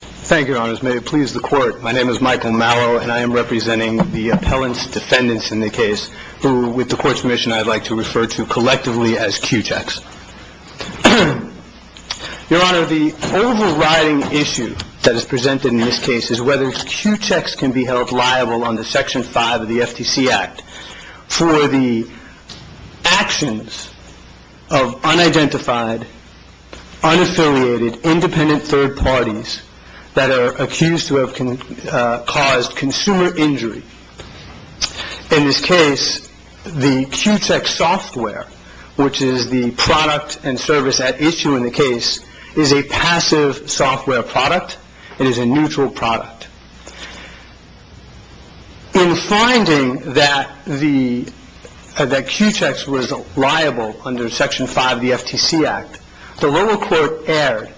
Thank you, Your Honors. May it please the Court, my name is Michael Mallow and I am representing the appellant's defendants in the case who, with the Court's permission, I'd like to refer to collectively as Q-Checks. Your Honor, the overriding issue that is presented in this case is whether Q-Checks can be held liable under Section 5 of the FTC Act for the actions of unidentified, unaffiliated, independent third parties that are accused to have caused consumer injury. In this case, the Q-Check software, which is the product and service at issue in the case, is a passive software product. It is a neutral product. In finding that Q-Checks was liable under Section 5 of the FTC Act, the lower court erred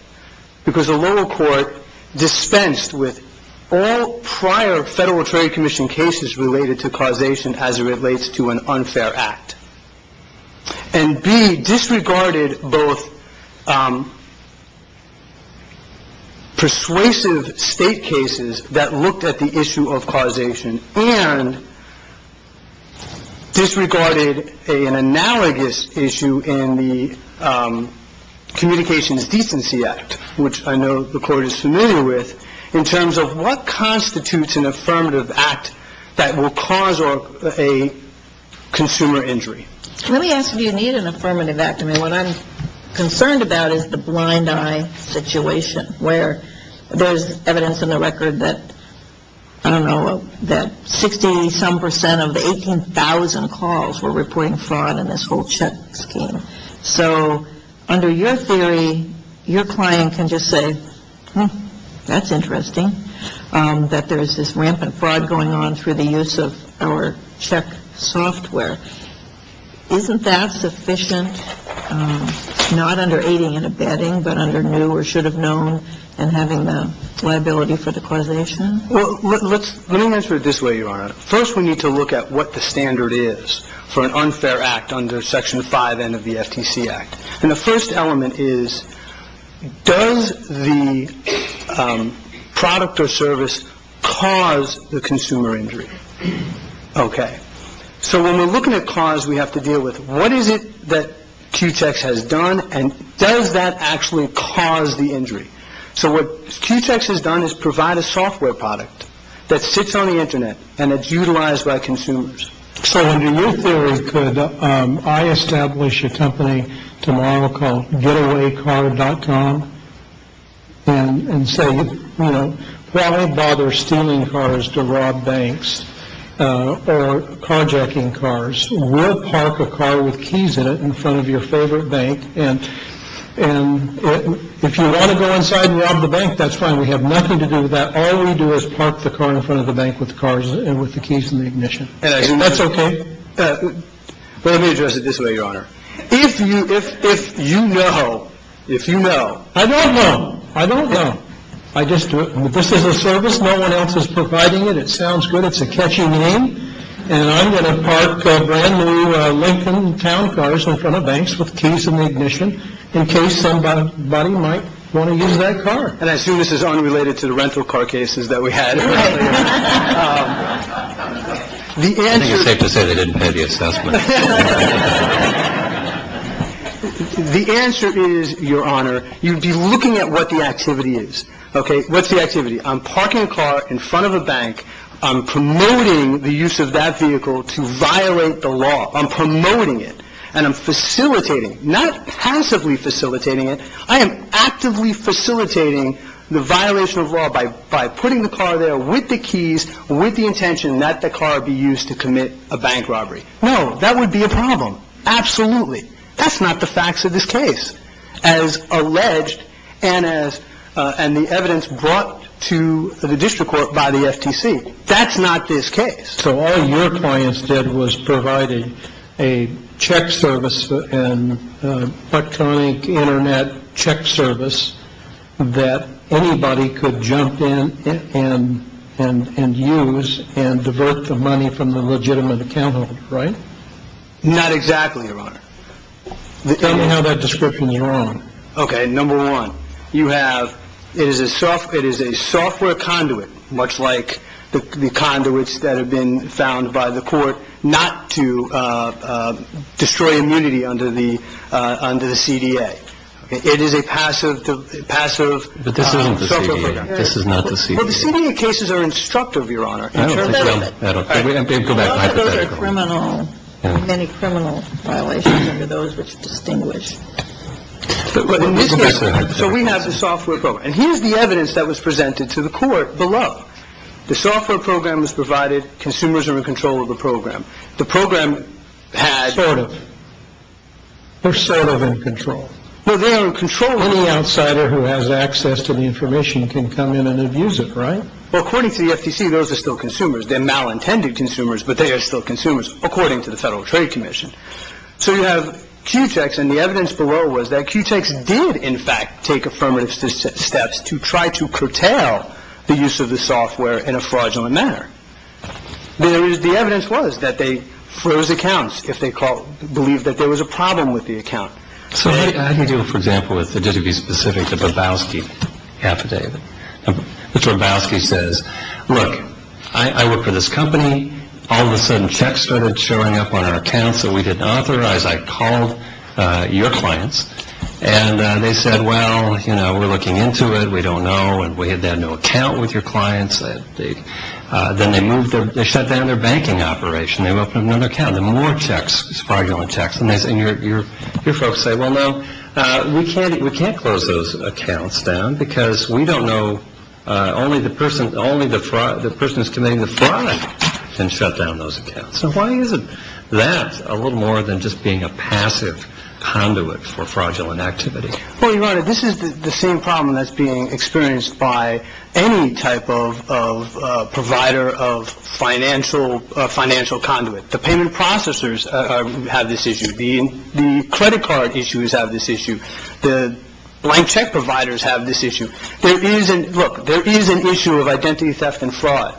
because the lower court dispensed with all prior Federal Trade Commission cases related to causation as it relates to an unfair act. And B, disregarded both persuasive state cases that looked at the issue of causation and disregarded an analogous issue in the Communications Decency Act, which I know the Court is familiar with, in terms of what constitutes an affirmative act that will cause a consumer injury. Let me ask, do you need an affirmative act? I mean, what I'm concerned about is the blind eye situation where there's evidence in the record that, I don't know, that 60-some percent of the 18,000 calls were reporting fraud in this whole check scheme. So under your theory, your client can just say, hmm, that's interesting that there's this rampant fraud going on through the use of our check software. Isn't that sufficient, not under aiding and abetting, but under new or should have known and having the liability for the causation? Well, let's, let me answer it this way, Your Honor. First, we need to look at what the standard is for an unfair act under Section 5N of the FTC Act. And the first element is, does the product or service cause the consumer injury? Okay. So when we're looking at cause, we have to deal with what is it that Q-Tex has done and does that actually cause the injury? So what Q-Tex has done is provide a software product that sits on the Internet and it's utilized by consumers. So under your theory, could I establish a company tomorrow called getawaycar.com and say, you know, why bother stealing cars to rob banks or carjacking cars? We'll park a car with keys in it in front of your favorite bank. And if you want to go inside and rob the bank, that's fine. We have nothing to do with that. All we do is park the car in front of the bank with cars and with the keys and the ignition. And that's okay. Let me address it this way, Your Honor. If you if you know, if you know, I don't know. I don't know. I just do it. This is a service. No one else is providing it. It sounds good. It's a catchy name. And I'm going to park a brand new Lincoln town cars in front of banks with keys and ignition in case somebody might want to use that car. And as soon as this is unrelated to the rental car cases that we had, the answer to say they didn't pay the assessment. The answer is, Your Honor, you'd be looking at what the activity is. OK, what's the activity? I'm parking a car in front of a bank. I'm promoting the use of that vehicle to violate the law. I'm promoting it and I'm facilitating not passively facilitating it. I am actively facilitating the violation of law by by putting the car there with the keys, with the intention that the car be used to commit a bank robbery. No, that would be a problem. Absolutely. That's not the facts of this case as alleged. And as and the evidence brought to the district court by the FTC. That's not this case. So all your clients did was provided a check service and electronic Internet check service that anybody could jump in and and and use and divert the money from the legitimate account. Right. Not exactly. Your Honor. Tell me how that description you're on. OK. Number one, you have it is a soft. It is a software conduit, much like the conduits that have been found by the court not to destroy immunity under the under the CDA. It is a passive, passive. But this isn't the CDA. This is not the CDA cases are instructive. Your Honor, I don't think so. I don't think that criminal any criminal violations are those which distinguish. So we have the software. And here's the evidence that was presented to the court below. The software program was provided. Consumers are in control of the program. The program had sort of. They're sort of in control. Well, they are in control. Any outsider who has access to the information can come in and abuse it. Right. Well, according to the FTC, those are still consumers. They're malintended consumers, but they are still consumers, according to the Federal Trade Commission. So you have QTEX and the evidence below was that QTEX did, in fact, take affirmative steps to try to curtail the use of the software in a fraudulent manner. There is the evidence was that they froze accounts if they call believe that there was a problem with the account. So how do you deal, for example, with the duty to be specific to Bobowski affidavit? Mr. Bobowski says, look, I work for this company. All of a sudden, checks started showing up on our accounts that we didn't authorize. I called your clients and they said, well, you know, we're looking into it. We don't know. And we had no account with your clients. Then they moved. They shut down their banking operation. They opened an account and more checks, fraudulent checks. And your folks say, well, no, we can't. We can't close those accounts down because we don't know. Only the person. Only the fraud. The person is committing the fraud and shut down those accounts. So why isn't that a little more than just being a passive conduit for fraudulent activity? Well, you know, this is the same problem that's being experienced by any type of provider of financial financial conduit. The payment processors have this issue being the credit card. Issues have this issue. The blank check providers have this issue. There isn't. Look, there is an issue of identity theft and fraud.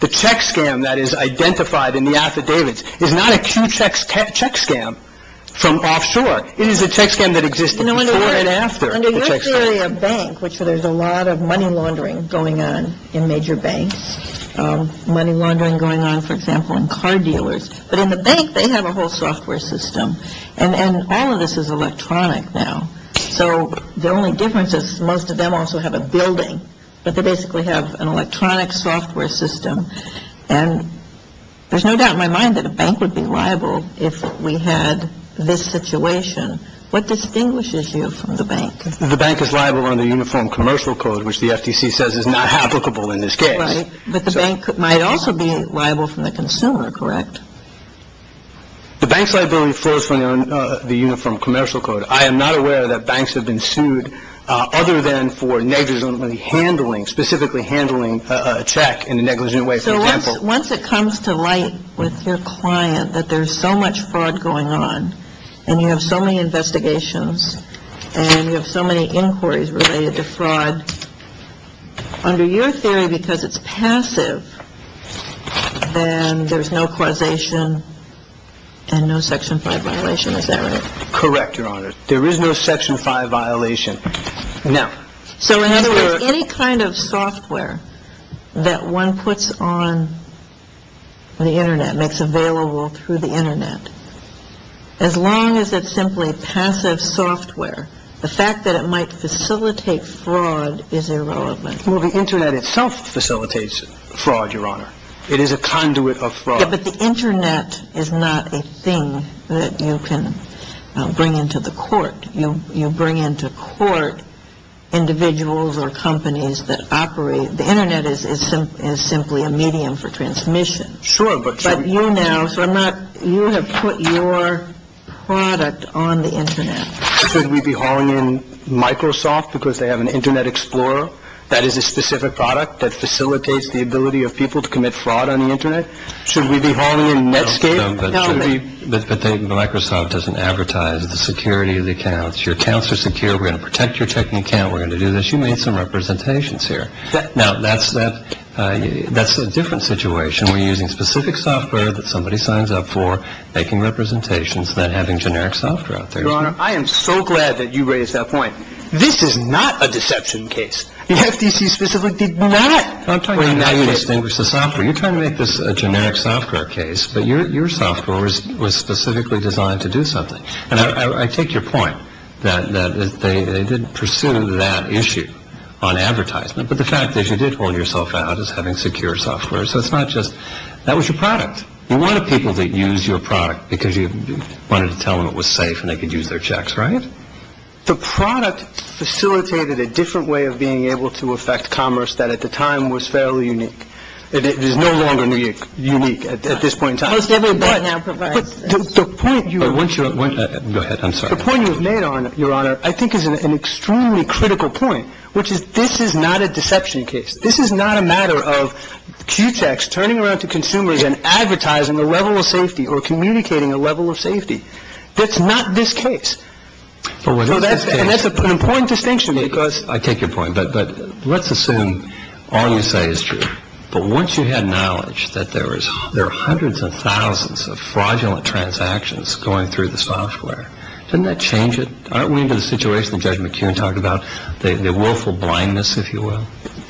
The check scam that is identified in the affidavits is not a key checks check scam from offshore. It is a check scam that exists after a bank, which there's a lot of money laundering going on in major banks, money laundering going on, for example, in car dealers. But in the bank, they have a whole software system. And all of this is electronic now. So the only difference is most of them also have a building, but they basically have an electronic software system. And there's no doubt in my mind that a bank would be liable if we had this situation. What distinguishes you from the bank? The bank is liable under uniform commercial code, which the FTC says is not applicable in this case. But the bank might also be liable from the consumer. Correct. The bank's liability flows from the uniform commercial code. I am not aware that banks have been sued other than for negligently handling, specifically handling a check in a negligent way. So once it comes to light with your client that there's so much fraud going on and you have so many investigations and you have so many inquiries related to fraud under your theory, because it's passive and there's no causation and no Section 5 violation, is that right? Correct, Your Honor. There is no Section 5 violation. So in other words, any kind of software that one puts on the Internet, makes available through the Internet, as long as it's simply passive software, the fact that it might facilitate fraud is irrelevant. Well, the Internet itself facilitates fraud, Your Honor. It is a conduit of fraud. Yeah, but the Internet is not a thing that you can bring into the court. You bring into court individuals or companies that operate. The Internet is simply a medium for transmission. But you now, so I'm not, you have put your product on the Internet. Should we be hauling in Microsoft because they have an Internet Explorer that is a specific product that facilitates the ability of people to commit fraud on the Internet? Should we be hauling in Netscape? No, but Microsoft doesn't advertise the security of the accounts. Your accounts are secure. We're going to protect your checking account. We're going to do this. You made some representations here. Now, that's a different situation. We're using specific software that somebody signs up for, making representations than having generic software out there. Your Honor, I am so glad that you raised that point. This is not a deception case. The FTC specifically did not bring that case. I'm talking about how you distinguish the software. You're trying to make this a generic software case, but your software was specifically designed to do something. And I take your point that they didn't pursue that issue on advertisement. But the fact is you did hold yourself out as having secure software. So it's not just that was your product. You wanted people to use your product because you wanted to tell them it was safe and they could use their checks, right? The product facilitated a different way of being able to affect commerce that at the time was fairly unique. It is no longer unique at this point in time. But the point you are once you're at one. Go ahead. I'm sorry. The point you have made on your honor, I think, is an extremely critical point, which is this is not a deception case. This is not a matter of Q techs turning around to consumers and advertising a level of safety or communicating a level of safety. That's not this case. So that's an important distinction because I take your point. But let's assume all you say is true. But once you had knowledge that there was there are hundreds of thousands of fraudulent transactions going through the software, didn't that change it? Aren't we into the situation? Judge McKeon talked about the willful blindness, if you will.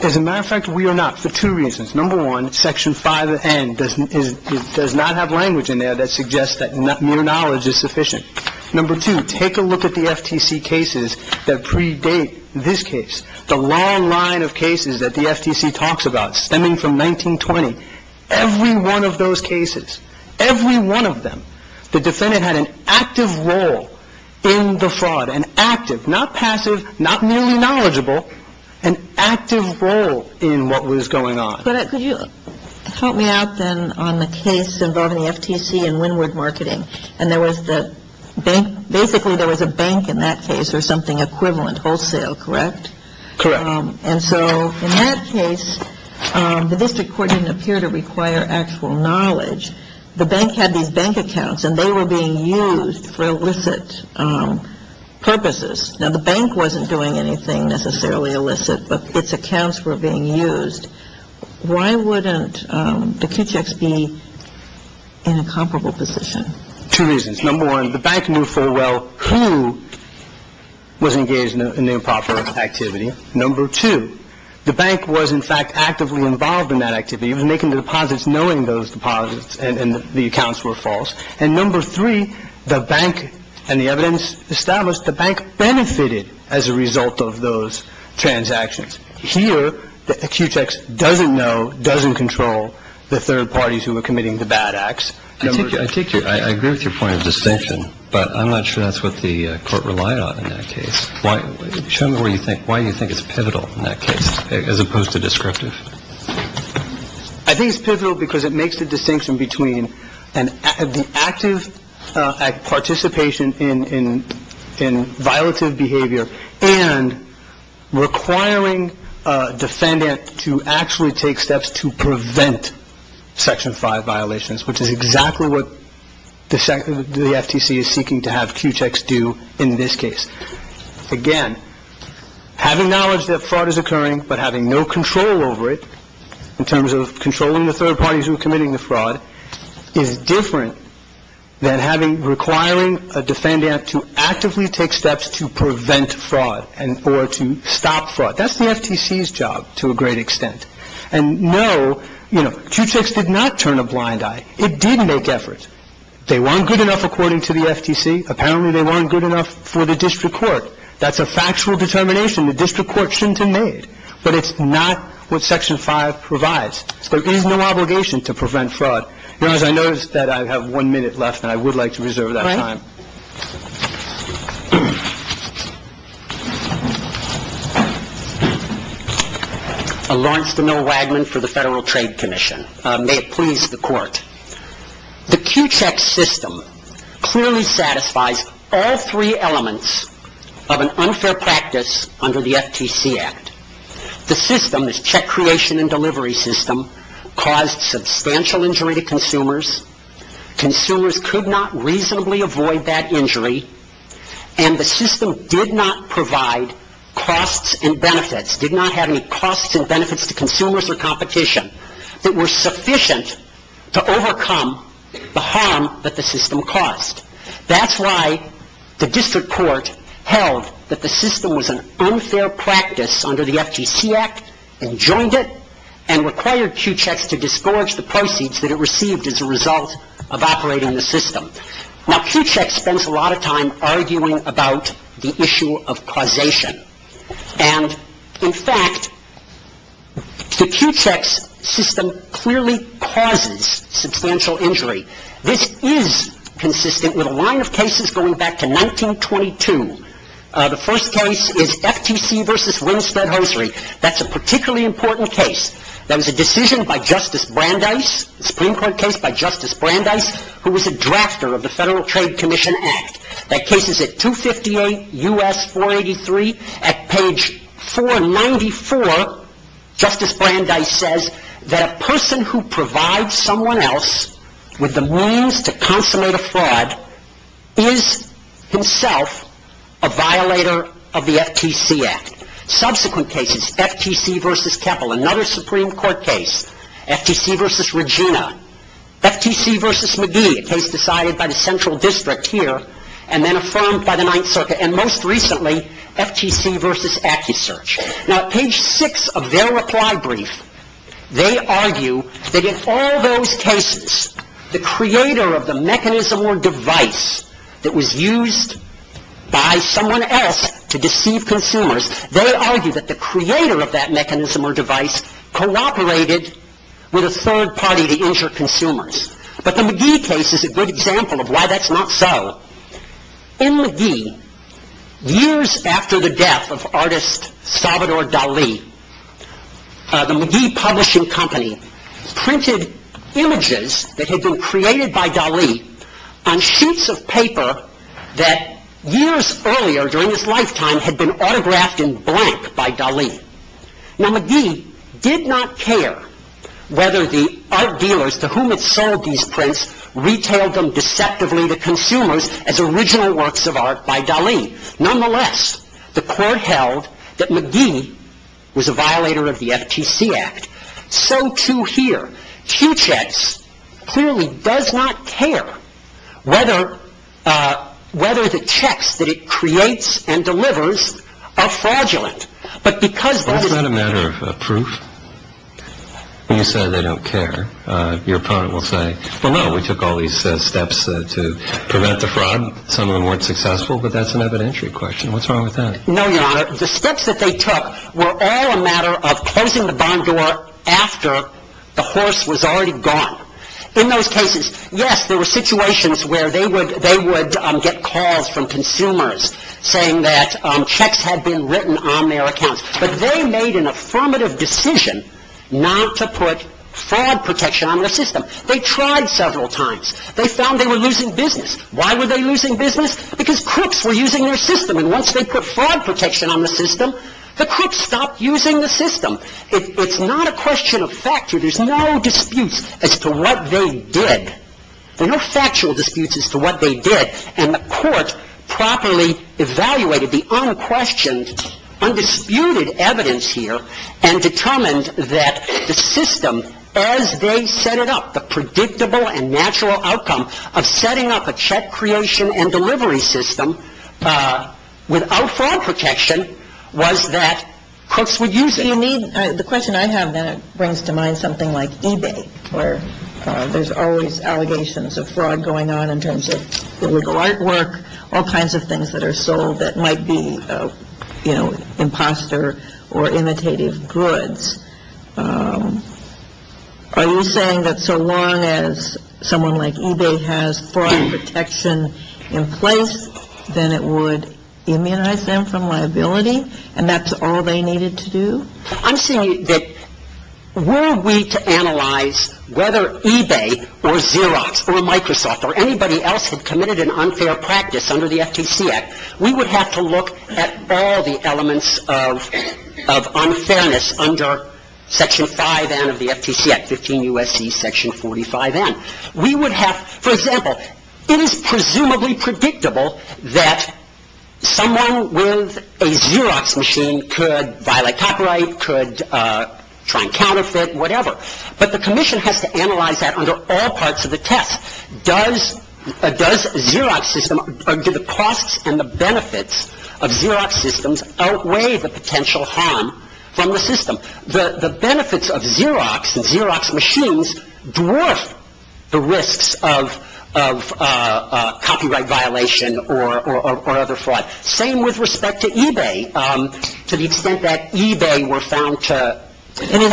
As a matter of fact, we are not for two reasons. Number one, section five and does not have language in there that suggests that not mere knowledge is sufficient. Number two, take a look at the FTC cases that predate this case. The long line of cases that the FTC talks about stemming from 1920. Every one of those cases, every one of them, the defendant had an active role in the fraud and active, not passive, not merely knowledgeable, an active role in what was going on. Could you help me out then on the case involving the FTC and windward marketing? And there was the bank. Basically, there was a bank in that case or something equivalent wholesale, correct? Correct. And so in that case, the district court didn't appear to require actual knowledge. The bank had these bank accounts and they were being used for illicit purposes. Now, the bank wasn't doing anything necessarily illicit, but its accounts were being used. Why wouldn't the Kitchex be in a comparable position? Two reasons. Number one, the bank knew full well who was engaged in the improper activity. Number two, the bank was, in fact, actively involved in that activity. It was making the deposits knowing those deposits and the accounts were false. And number three, the bank and the evidence established the bank benefited as a result of those transactions. Here, the Kitchex doesn't know, doesn't control the third parties who were committing the bad acts. I take your I agree with your point of distinction, but I'm not sure that's what the court relied on in that case. Why? Show me where you think. Why do you think it's pivotal in that case as opposed to descriptive? I think it's pivotal because it makes the distinction between the active participation in in in violative behavior and requiring a defendant to actually take steps to prevent Section five violations, which is exactly what the SEC, the FTC is seeking to have Kitchex do in this case. Again, having knowledge that fraud is occurring, but having no control over it in terms of controlling the third parties who are committing the fraud is different than having requiring a defendant to actively take steps to prevent fraud and or to stop fraud. That's the FTC's job to a great extent. And no, you know, Kitchex did not turn a blind eye. It did make efforts. They weren't good enough, according to the FTC. Apparently they weren't good enough for the district court. That's a factual determination. The district court shouldn't have made. But it's not what Section five provides. There is no obligation to prevent fraud. You know, as I noticed that I have one minute left and I would like to reserve that time. All right. Lawrence DeNil Wagman for the Federal Trade Commission. May it please the court. The Kitchex system clearly satisfies all three elements of an unfair practice under the FTC Act. The system, this check creation and delivery system, caused substantial injury to consumers. Consumers could not reasonably avoid that injury. And the system did not provide costs and benefits, did not have any costs and benefits to consumers or competition that were sufficient to overcome the harm that the system caused. That's why the district court held that the system was an unfair practice under the FTC Act and joined it and required Kitchex to disgorge the proceeds that it received as a result of operating the system. Now, Kitchex spends a lot of time arguing about the issue of causation. And, in fact, the Kitchex system clearly causes substantial injury. This is consistent with a line of cases going back to 1922. The first case is FTC versus Winstead-Hosry. That's a particularly important case. That was a decision by Justice Brandeis, Supreme Court case by Justice Brandeis, who was a drafter of the Federal Trade Commission Act. That case is at 258 U.S. 483. At page 494, Justice Brandeis says that a person who provides someone else with the means to consummate a fraud is himself a violator of the FTC Act. Subsequent cases, FTC versus Keppel, another Supreme Court case, FTC versus Regina, FTC versus McGee, a case decided by the Central District here and then affirmed by the Ninth Circuit, and most recently, FTC versus AccuSearch. Now, at page 6 of their reply brief, they argue that in all those cases, the creator of the mechanism or device that was used by someone else to deceive consumers, they argue that the creator of that mechanism or device cooperated with a third party to injure consumers. But the McGee case is a good example of why that's not so. In McGee, years after the death of artist Salvador Dali, the McGee Publishing Company printed images that had been created by Dali on sheets of paper that years earlier during his lifetime had been autographed in blank by Dali. Now, McGee did not care whether the art dealers to whom it sold these prints retailed them deceptively to consumers as original works of art by Dali. Nonetheless, the court held that McGee was a violator of the FTC Act. So too here. Q-Chex clearly does not care whether the checks that it creates and delivers are fraudulent. But because that is... Well, isn't that a matter of proof? When you say they don't care, your opponent will say, well, no, we took all these steps to prevent the fraud. Some of them weren't successful, but that's an evidentiary question. What's wrong with that? No, Your Honor. The steps that they took were all a matter of closing the barn door after the horse was already gone. In those cases, yes, there were situations where they would get calls from consumers saying that checks had been written on their accounts. But they made an affirmative decision not to put fraud protection on their system. They tried several times. They found they were losing business. Why were they losing business? Because crooks were using their system. And once they put fraud protection on the system, the crooks stopped using the system. It's not a question of fact. There's no disputes as to what they did. There are no factual disputes as to what they did. And the court properly evaluated the unquestioned, undisputed evidence here and determined that the system, as they set it up, the predictable and natural outcome of setting up a check creation and delivery system without fraud protection was that crooks would use it. The question I have then brings to mind something like eBay where there's always allegations of fraud going on in terms of illegal artwork, all kinds of things that are sold that might be, you know, imposter or imitative goods. Are you saying that so long as someone like eBay has fraud protection in place, then it would immunize them from liability and that's all they needed to do? I'm saying that were we to analyze whether eBay or Xerox or Microsoft or anybody else had committed an unfair practice under the FTC Act, we would have to look at all the elements of unfairness under Section 5N of the FTC Act, 15 U.S.C. Section 45N. We would have, for example, it is presumably predictable that someone with a Xerox machine could violate copyright, could try and counterfeit, whatever. But the commission has to analyze that under all parts of the test. Does Xerox system or do the costs and the benefits of Xerox systems outweigh the potential harm from the system? The benefits of Xerox and Xerox machines dwarf the risks of copyright violation or other fraud. Same with respect to eBay to the extent that eBay were found to cause- In a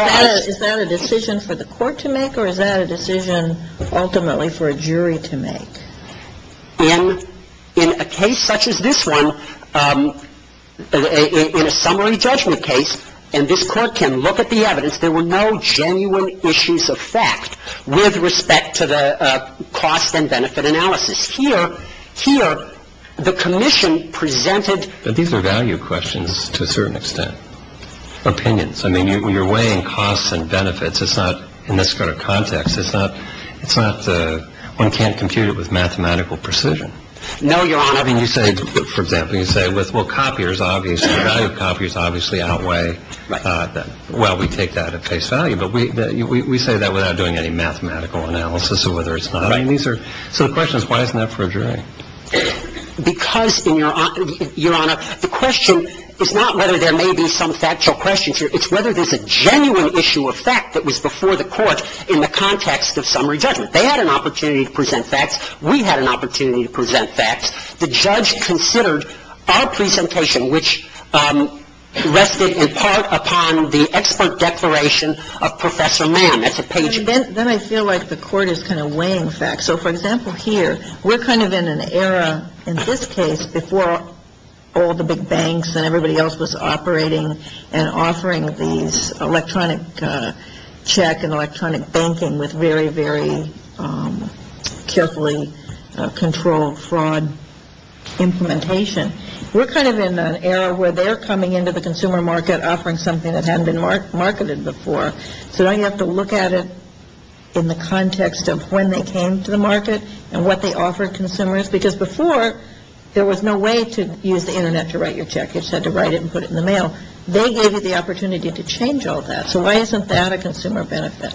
case such as this one, in a summary judgment case, and this Court can look at the evidence, there were no genuine issues of fact with respect to the cost and benefit analysis. Here, the commission presented- These are value questions to a certain extent, opinions. I mean, you're weighing costs and benefits. It's not in this sort of context. It's not-one can't compute it with mathematical precision. No, Your Honor. I mean, you say, for example, you say, well, copiers obviously-value copiers obviously outweigh- Right. Well, we take that at face value. But we say that without doing any mathematical analysis of whether it's not. Right. So the question is, why isn't that for a jury? Because, Your Honor, the question is not whether there may be some factual questions here. It's whether there's a genuine issue of fact that was before the Court in the context of summary judgment. They had an opportunity to present facts. We had an opportunity to present facts. The judge considered our presentation, which rested in part upon the expert declaration of Professor Mann. That's a page- Then I feel like the Court is kind of weighing facts. So, for example, here, we're kind of in an era, in this case, before all the big banks and everybody else was operating and offering these electronic check and electronic banking with very, very carefully controlled fraud implementation. We're kind of in an era where they're coming into the consumer market offering something that hadn't been marketed before. So now you have to look at it in the context of when they came to the market and what they offered consumers. Because before, there was no way to use the Internet to write your check. You just had to write it and put it in the mail. They gave you the opportunity to change all that. So why isn't that a consumer benefit?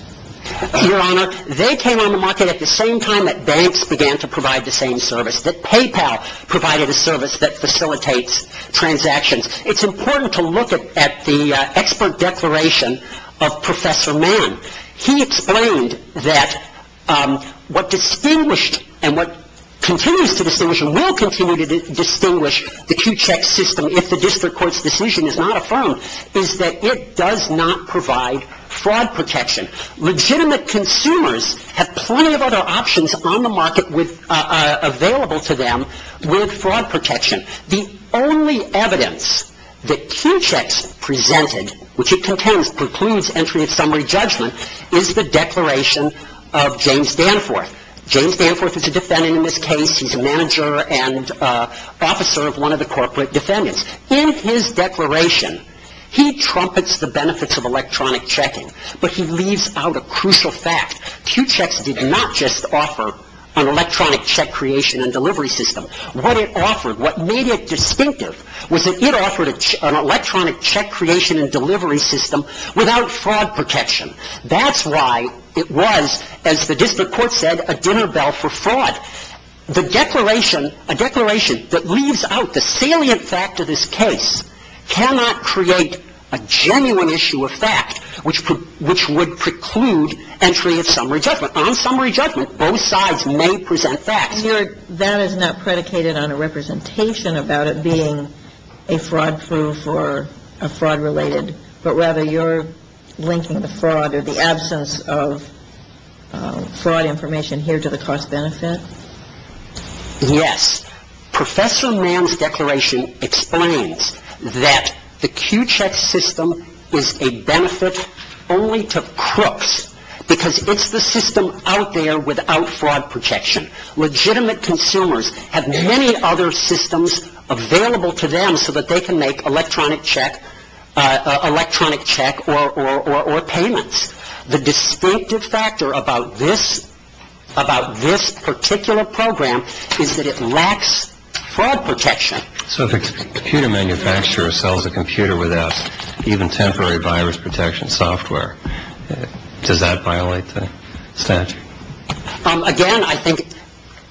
Your Honor, they came on the market at the same time that banks began to provide the same service, that PayPal provided a service that facilitates transactions. It's important to look at the expert declaration of Professor Mann. He explained that what distinguished and what continues to distinguish and will continue to distinguish the Q-Check system if the district court's decision is not affirmed, is that it does not provide fraud protection. Legitimate consumers have plenty of other options on the market available to them with fraud protection. The only evidence that Q-Checks presented, which it contains, precludes entry of summary judgment, is the declaration of James Danforth. James Danforth is a defendant in this case. He's a manager and officer of one of the corporate defendants. In his declaration, he trumpets the benefits of electronic checking, but he leaves out a crucial fact. Q-Checks did not just offer an electronic check creation and delivery system. What it offered, what made it distinctive, was that it offered an electronic check creation and delivery system without fraud protection. That's why it was, as the district court said, a dinner bell for fraud. A declaration that leaves out the salient fact of this case cannot create a genuine issue of fact, which would preclude entry of summary judgment. On summary judgment, both sides may present facts. That is not predicated on a representation about it being a fraud proof or a fraud related, but rather you're linking the fraud or the absence of fraud information here to the cost benefit? Yes. Professor Mann's declaration explains that the Q-Check system is a benefit only to crooks because it's the system out there without fraud protection. Legitimate consumers have many other systems available to them so that they can make electronic check or payments. The distinctive factor about this particular program is that it lacks fraud protection. So if a computer manufacturer sells a computer without even temporary virus protection software, does that violate the statute? Again, I think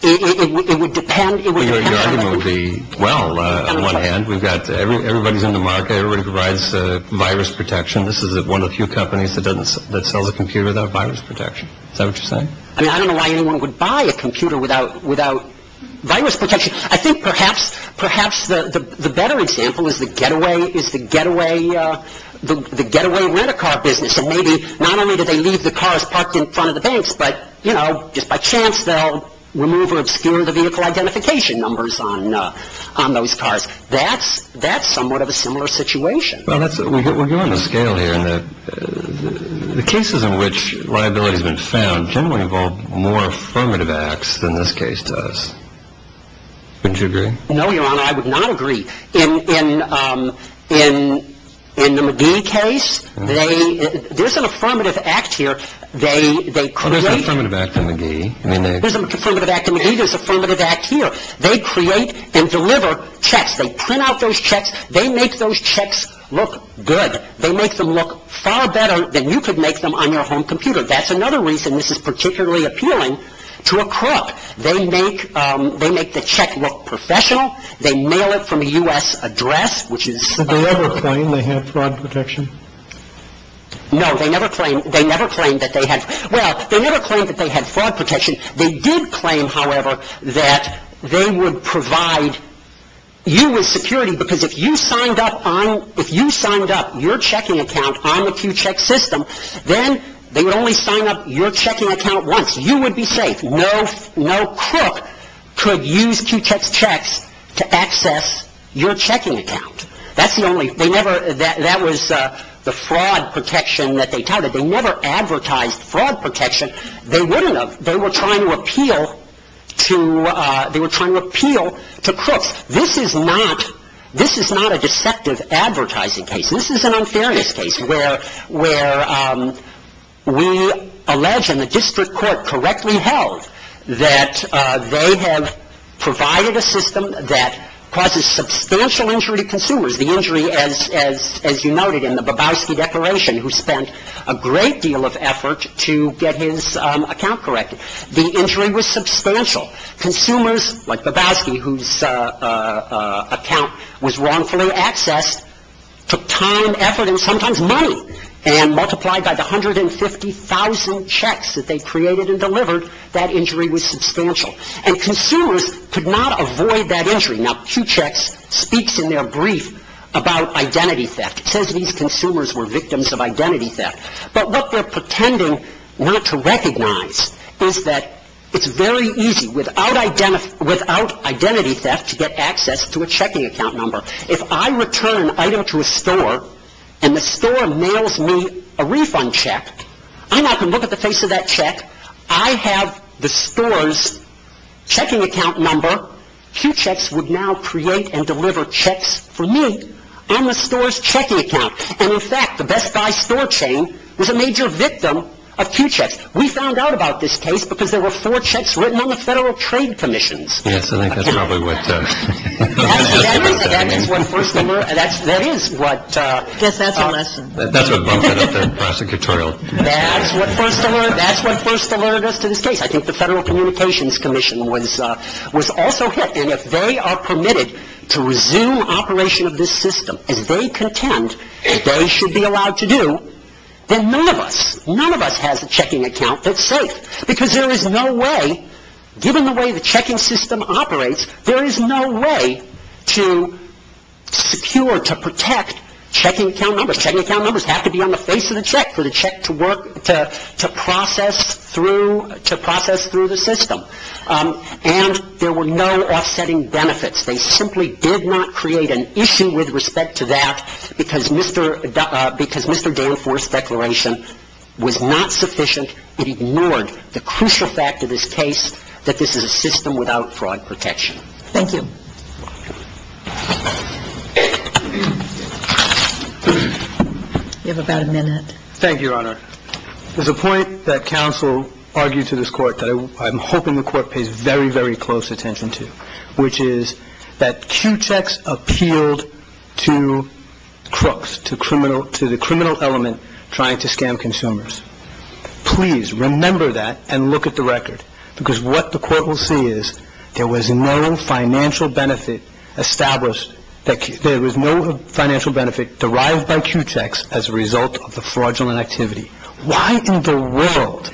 it would depend. Your argument would be, well, on one hand, everybody's in the market. Everybody provides virus protection. This is one of the few companies that sells a computer without virus protection. Is that what you're saying? I don't know why anyone would buy a computer without virus protection. I think perhaps the better example is the getaway rent-a-car business. And maybe not only do they leave the cars parked in front of the banks, but just by chance they'll remove or obscure the vehicle identification numbers on those cars. That's somewhat of a similar situation. We're going to scale here. The cases in which liability has been found generally involve more affirmative acts than this case does. Wouldn't you agree? No, Your Honor, I would not agree. In the McGee case, there's an affirmative act here. There's an affirmative act in McGee. There's an affirmative act in McGee. There's an affirmative act here. They create and deliver checks. They print out those checks. They make those checks look good. They make them look far better than you could make them on your home computer. That's another reason this is particularly appealing to a crook. They make the check look professional. They mail it from a U.S. address, which is... Did they ever claim they had fraud protection? No, they never claimed that they had... Well, they never claimed that they had fraud protection. They did claim, however, that they would provide you with security because if you signed up your checking account on the Q-Check system, then they would only sign up your checking account once. You would be safe. No crook could use Q-Check's checks to access your checking account. That's the only... They never... That was the fraud protection that they touted. They never advertised fraud protection. They wouldn't have. They were trying to appeal to crooks. This is not a deceptive advertising case. This is an unfairness case where we allege, and the district court correctly held, that they have provided a system that causes substantial injury to consumers. The injury, as you noted in the Babowski Declaration, who spent a great deal of effort to get his account corrected. The injury was substantial. Consumers, like Babowski, whose account was wrongfully accessed, took time, effort, and sometimes money, and multiplied by the 150,000 checks that they created and delivered, that injury was substantial. And consumers could not avoid that injury. Now, Q-Checks speaks in their brief about identity theft. It says these consumers were victims of identity theft. But what they're pretending not to recognize is that it's very easy, without identity theft, to get access to a checking account number. If I return an item to a store, and the store mails me a refund check, and I can look at the face of that check, I have the store's checking account number. Q-Checks would now create and deliver checks for me on the store's checking account. And, in fact, the Best Buy store chain was a major victim of Q-Checks. We found out about this case because there were four checks written on the Federal Trade Commission's. Yes, I think that's probably what that is. That is what first alerted us to this case. I think the Federal Communications Commission was also hit. And if they are permitted to resume operation of this system, as they contend they should be allowed to do, then none of us, none of us has a checking account that's safe. Because there is no way, given the way the checking system operates, there is no way to secure, to protect checking account numbers. Checking account numbers have to be on the face of the check for the check to process through the system. And there were no offsetting benefits. They simply did not create an issue with respect to that because Mr. Danforth's declaration was not sufficient. It ignored the crucial fact of this case that this is a system without fraud protection. Thank you. You have about a minute. Thank you, Your Honor. There's a point that counsel argued to this Court that I'm hoping the Court pays very, very close attention to, which is that Q-Checks appealed to crooks, to the criminal element trying to scam consumers. Please remember that and look at the record. Because what the Court will see is there was no financial benefit established, there was no financial benefit derived by Q-Checks as a result of the fraudulent activity. Why in the world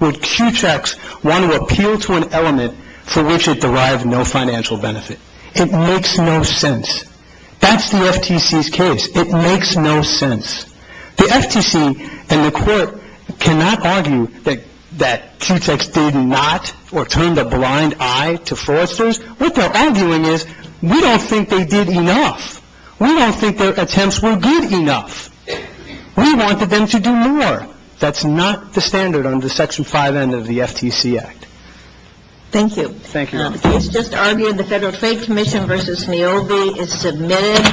would Q-Checks want to appeal to an element for which it derived no financial benefit? It makes no sense. That's the FTC's case. It makes no sense. The FTC and the Court cannot argue that Q-Checks did not or turned a blind eye to fraudsters. What they're arguing is we don't think they did enough. We don't think their attempts were good enough. We wanted them to do more. That's not the standard under Section 5N of the FTC Act. Thank you. Thank you, Your Honor. The case just argued, the Federal Trade Commission v. Niobe is submitted.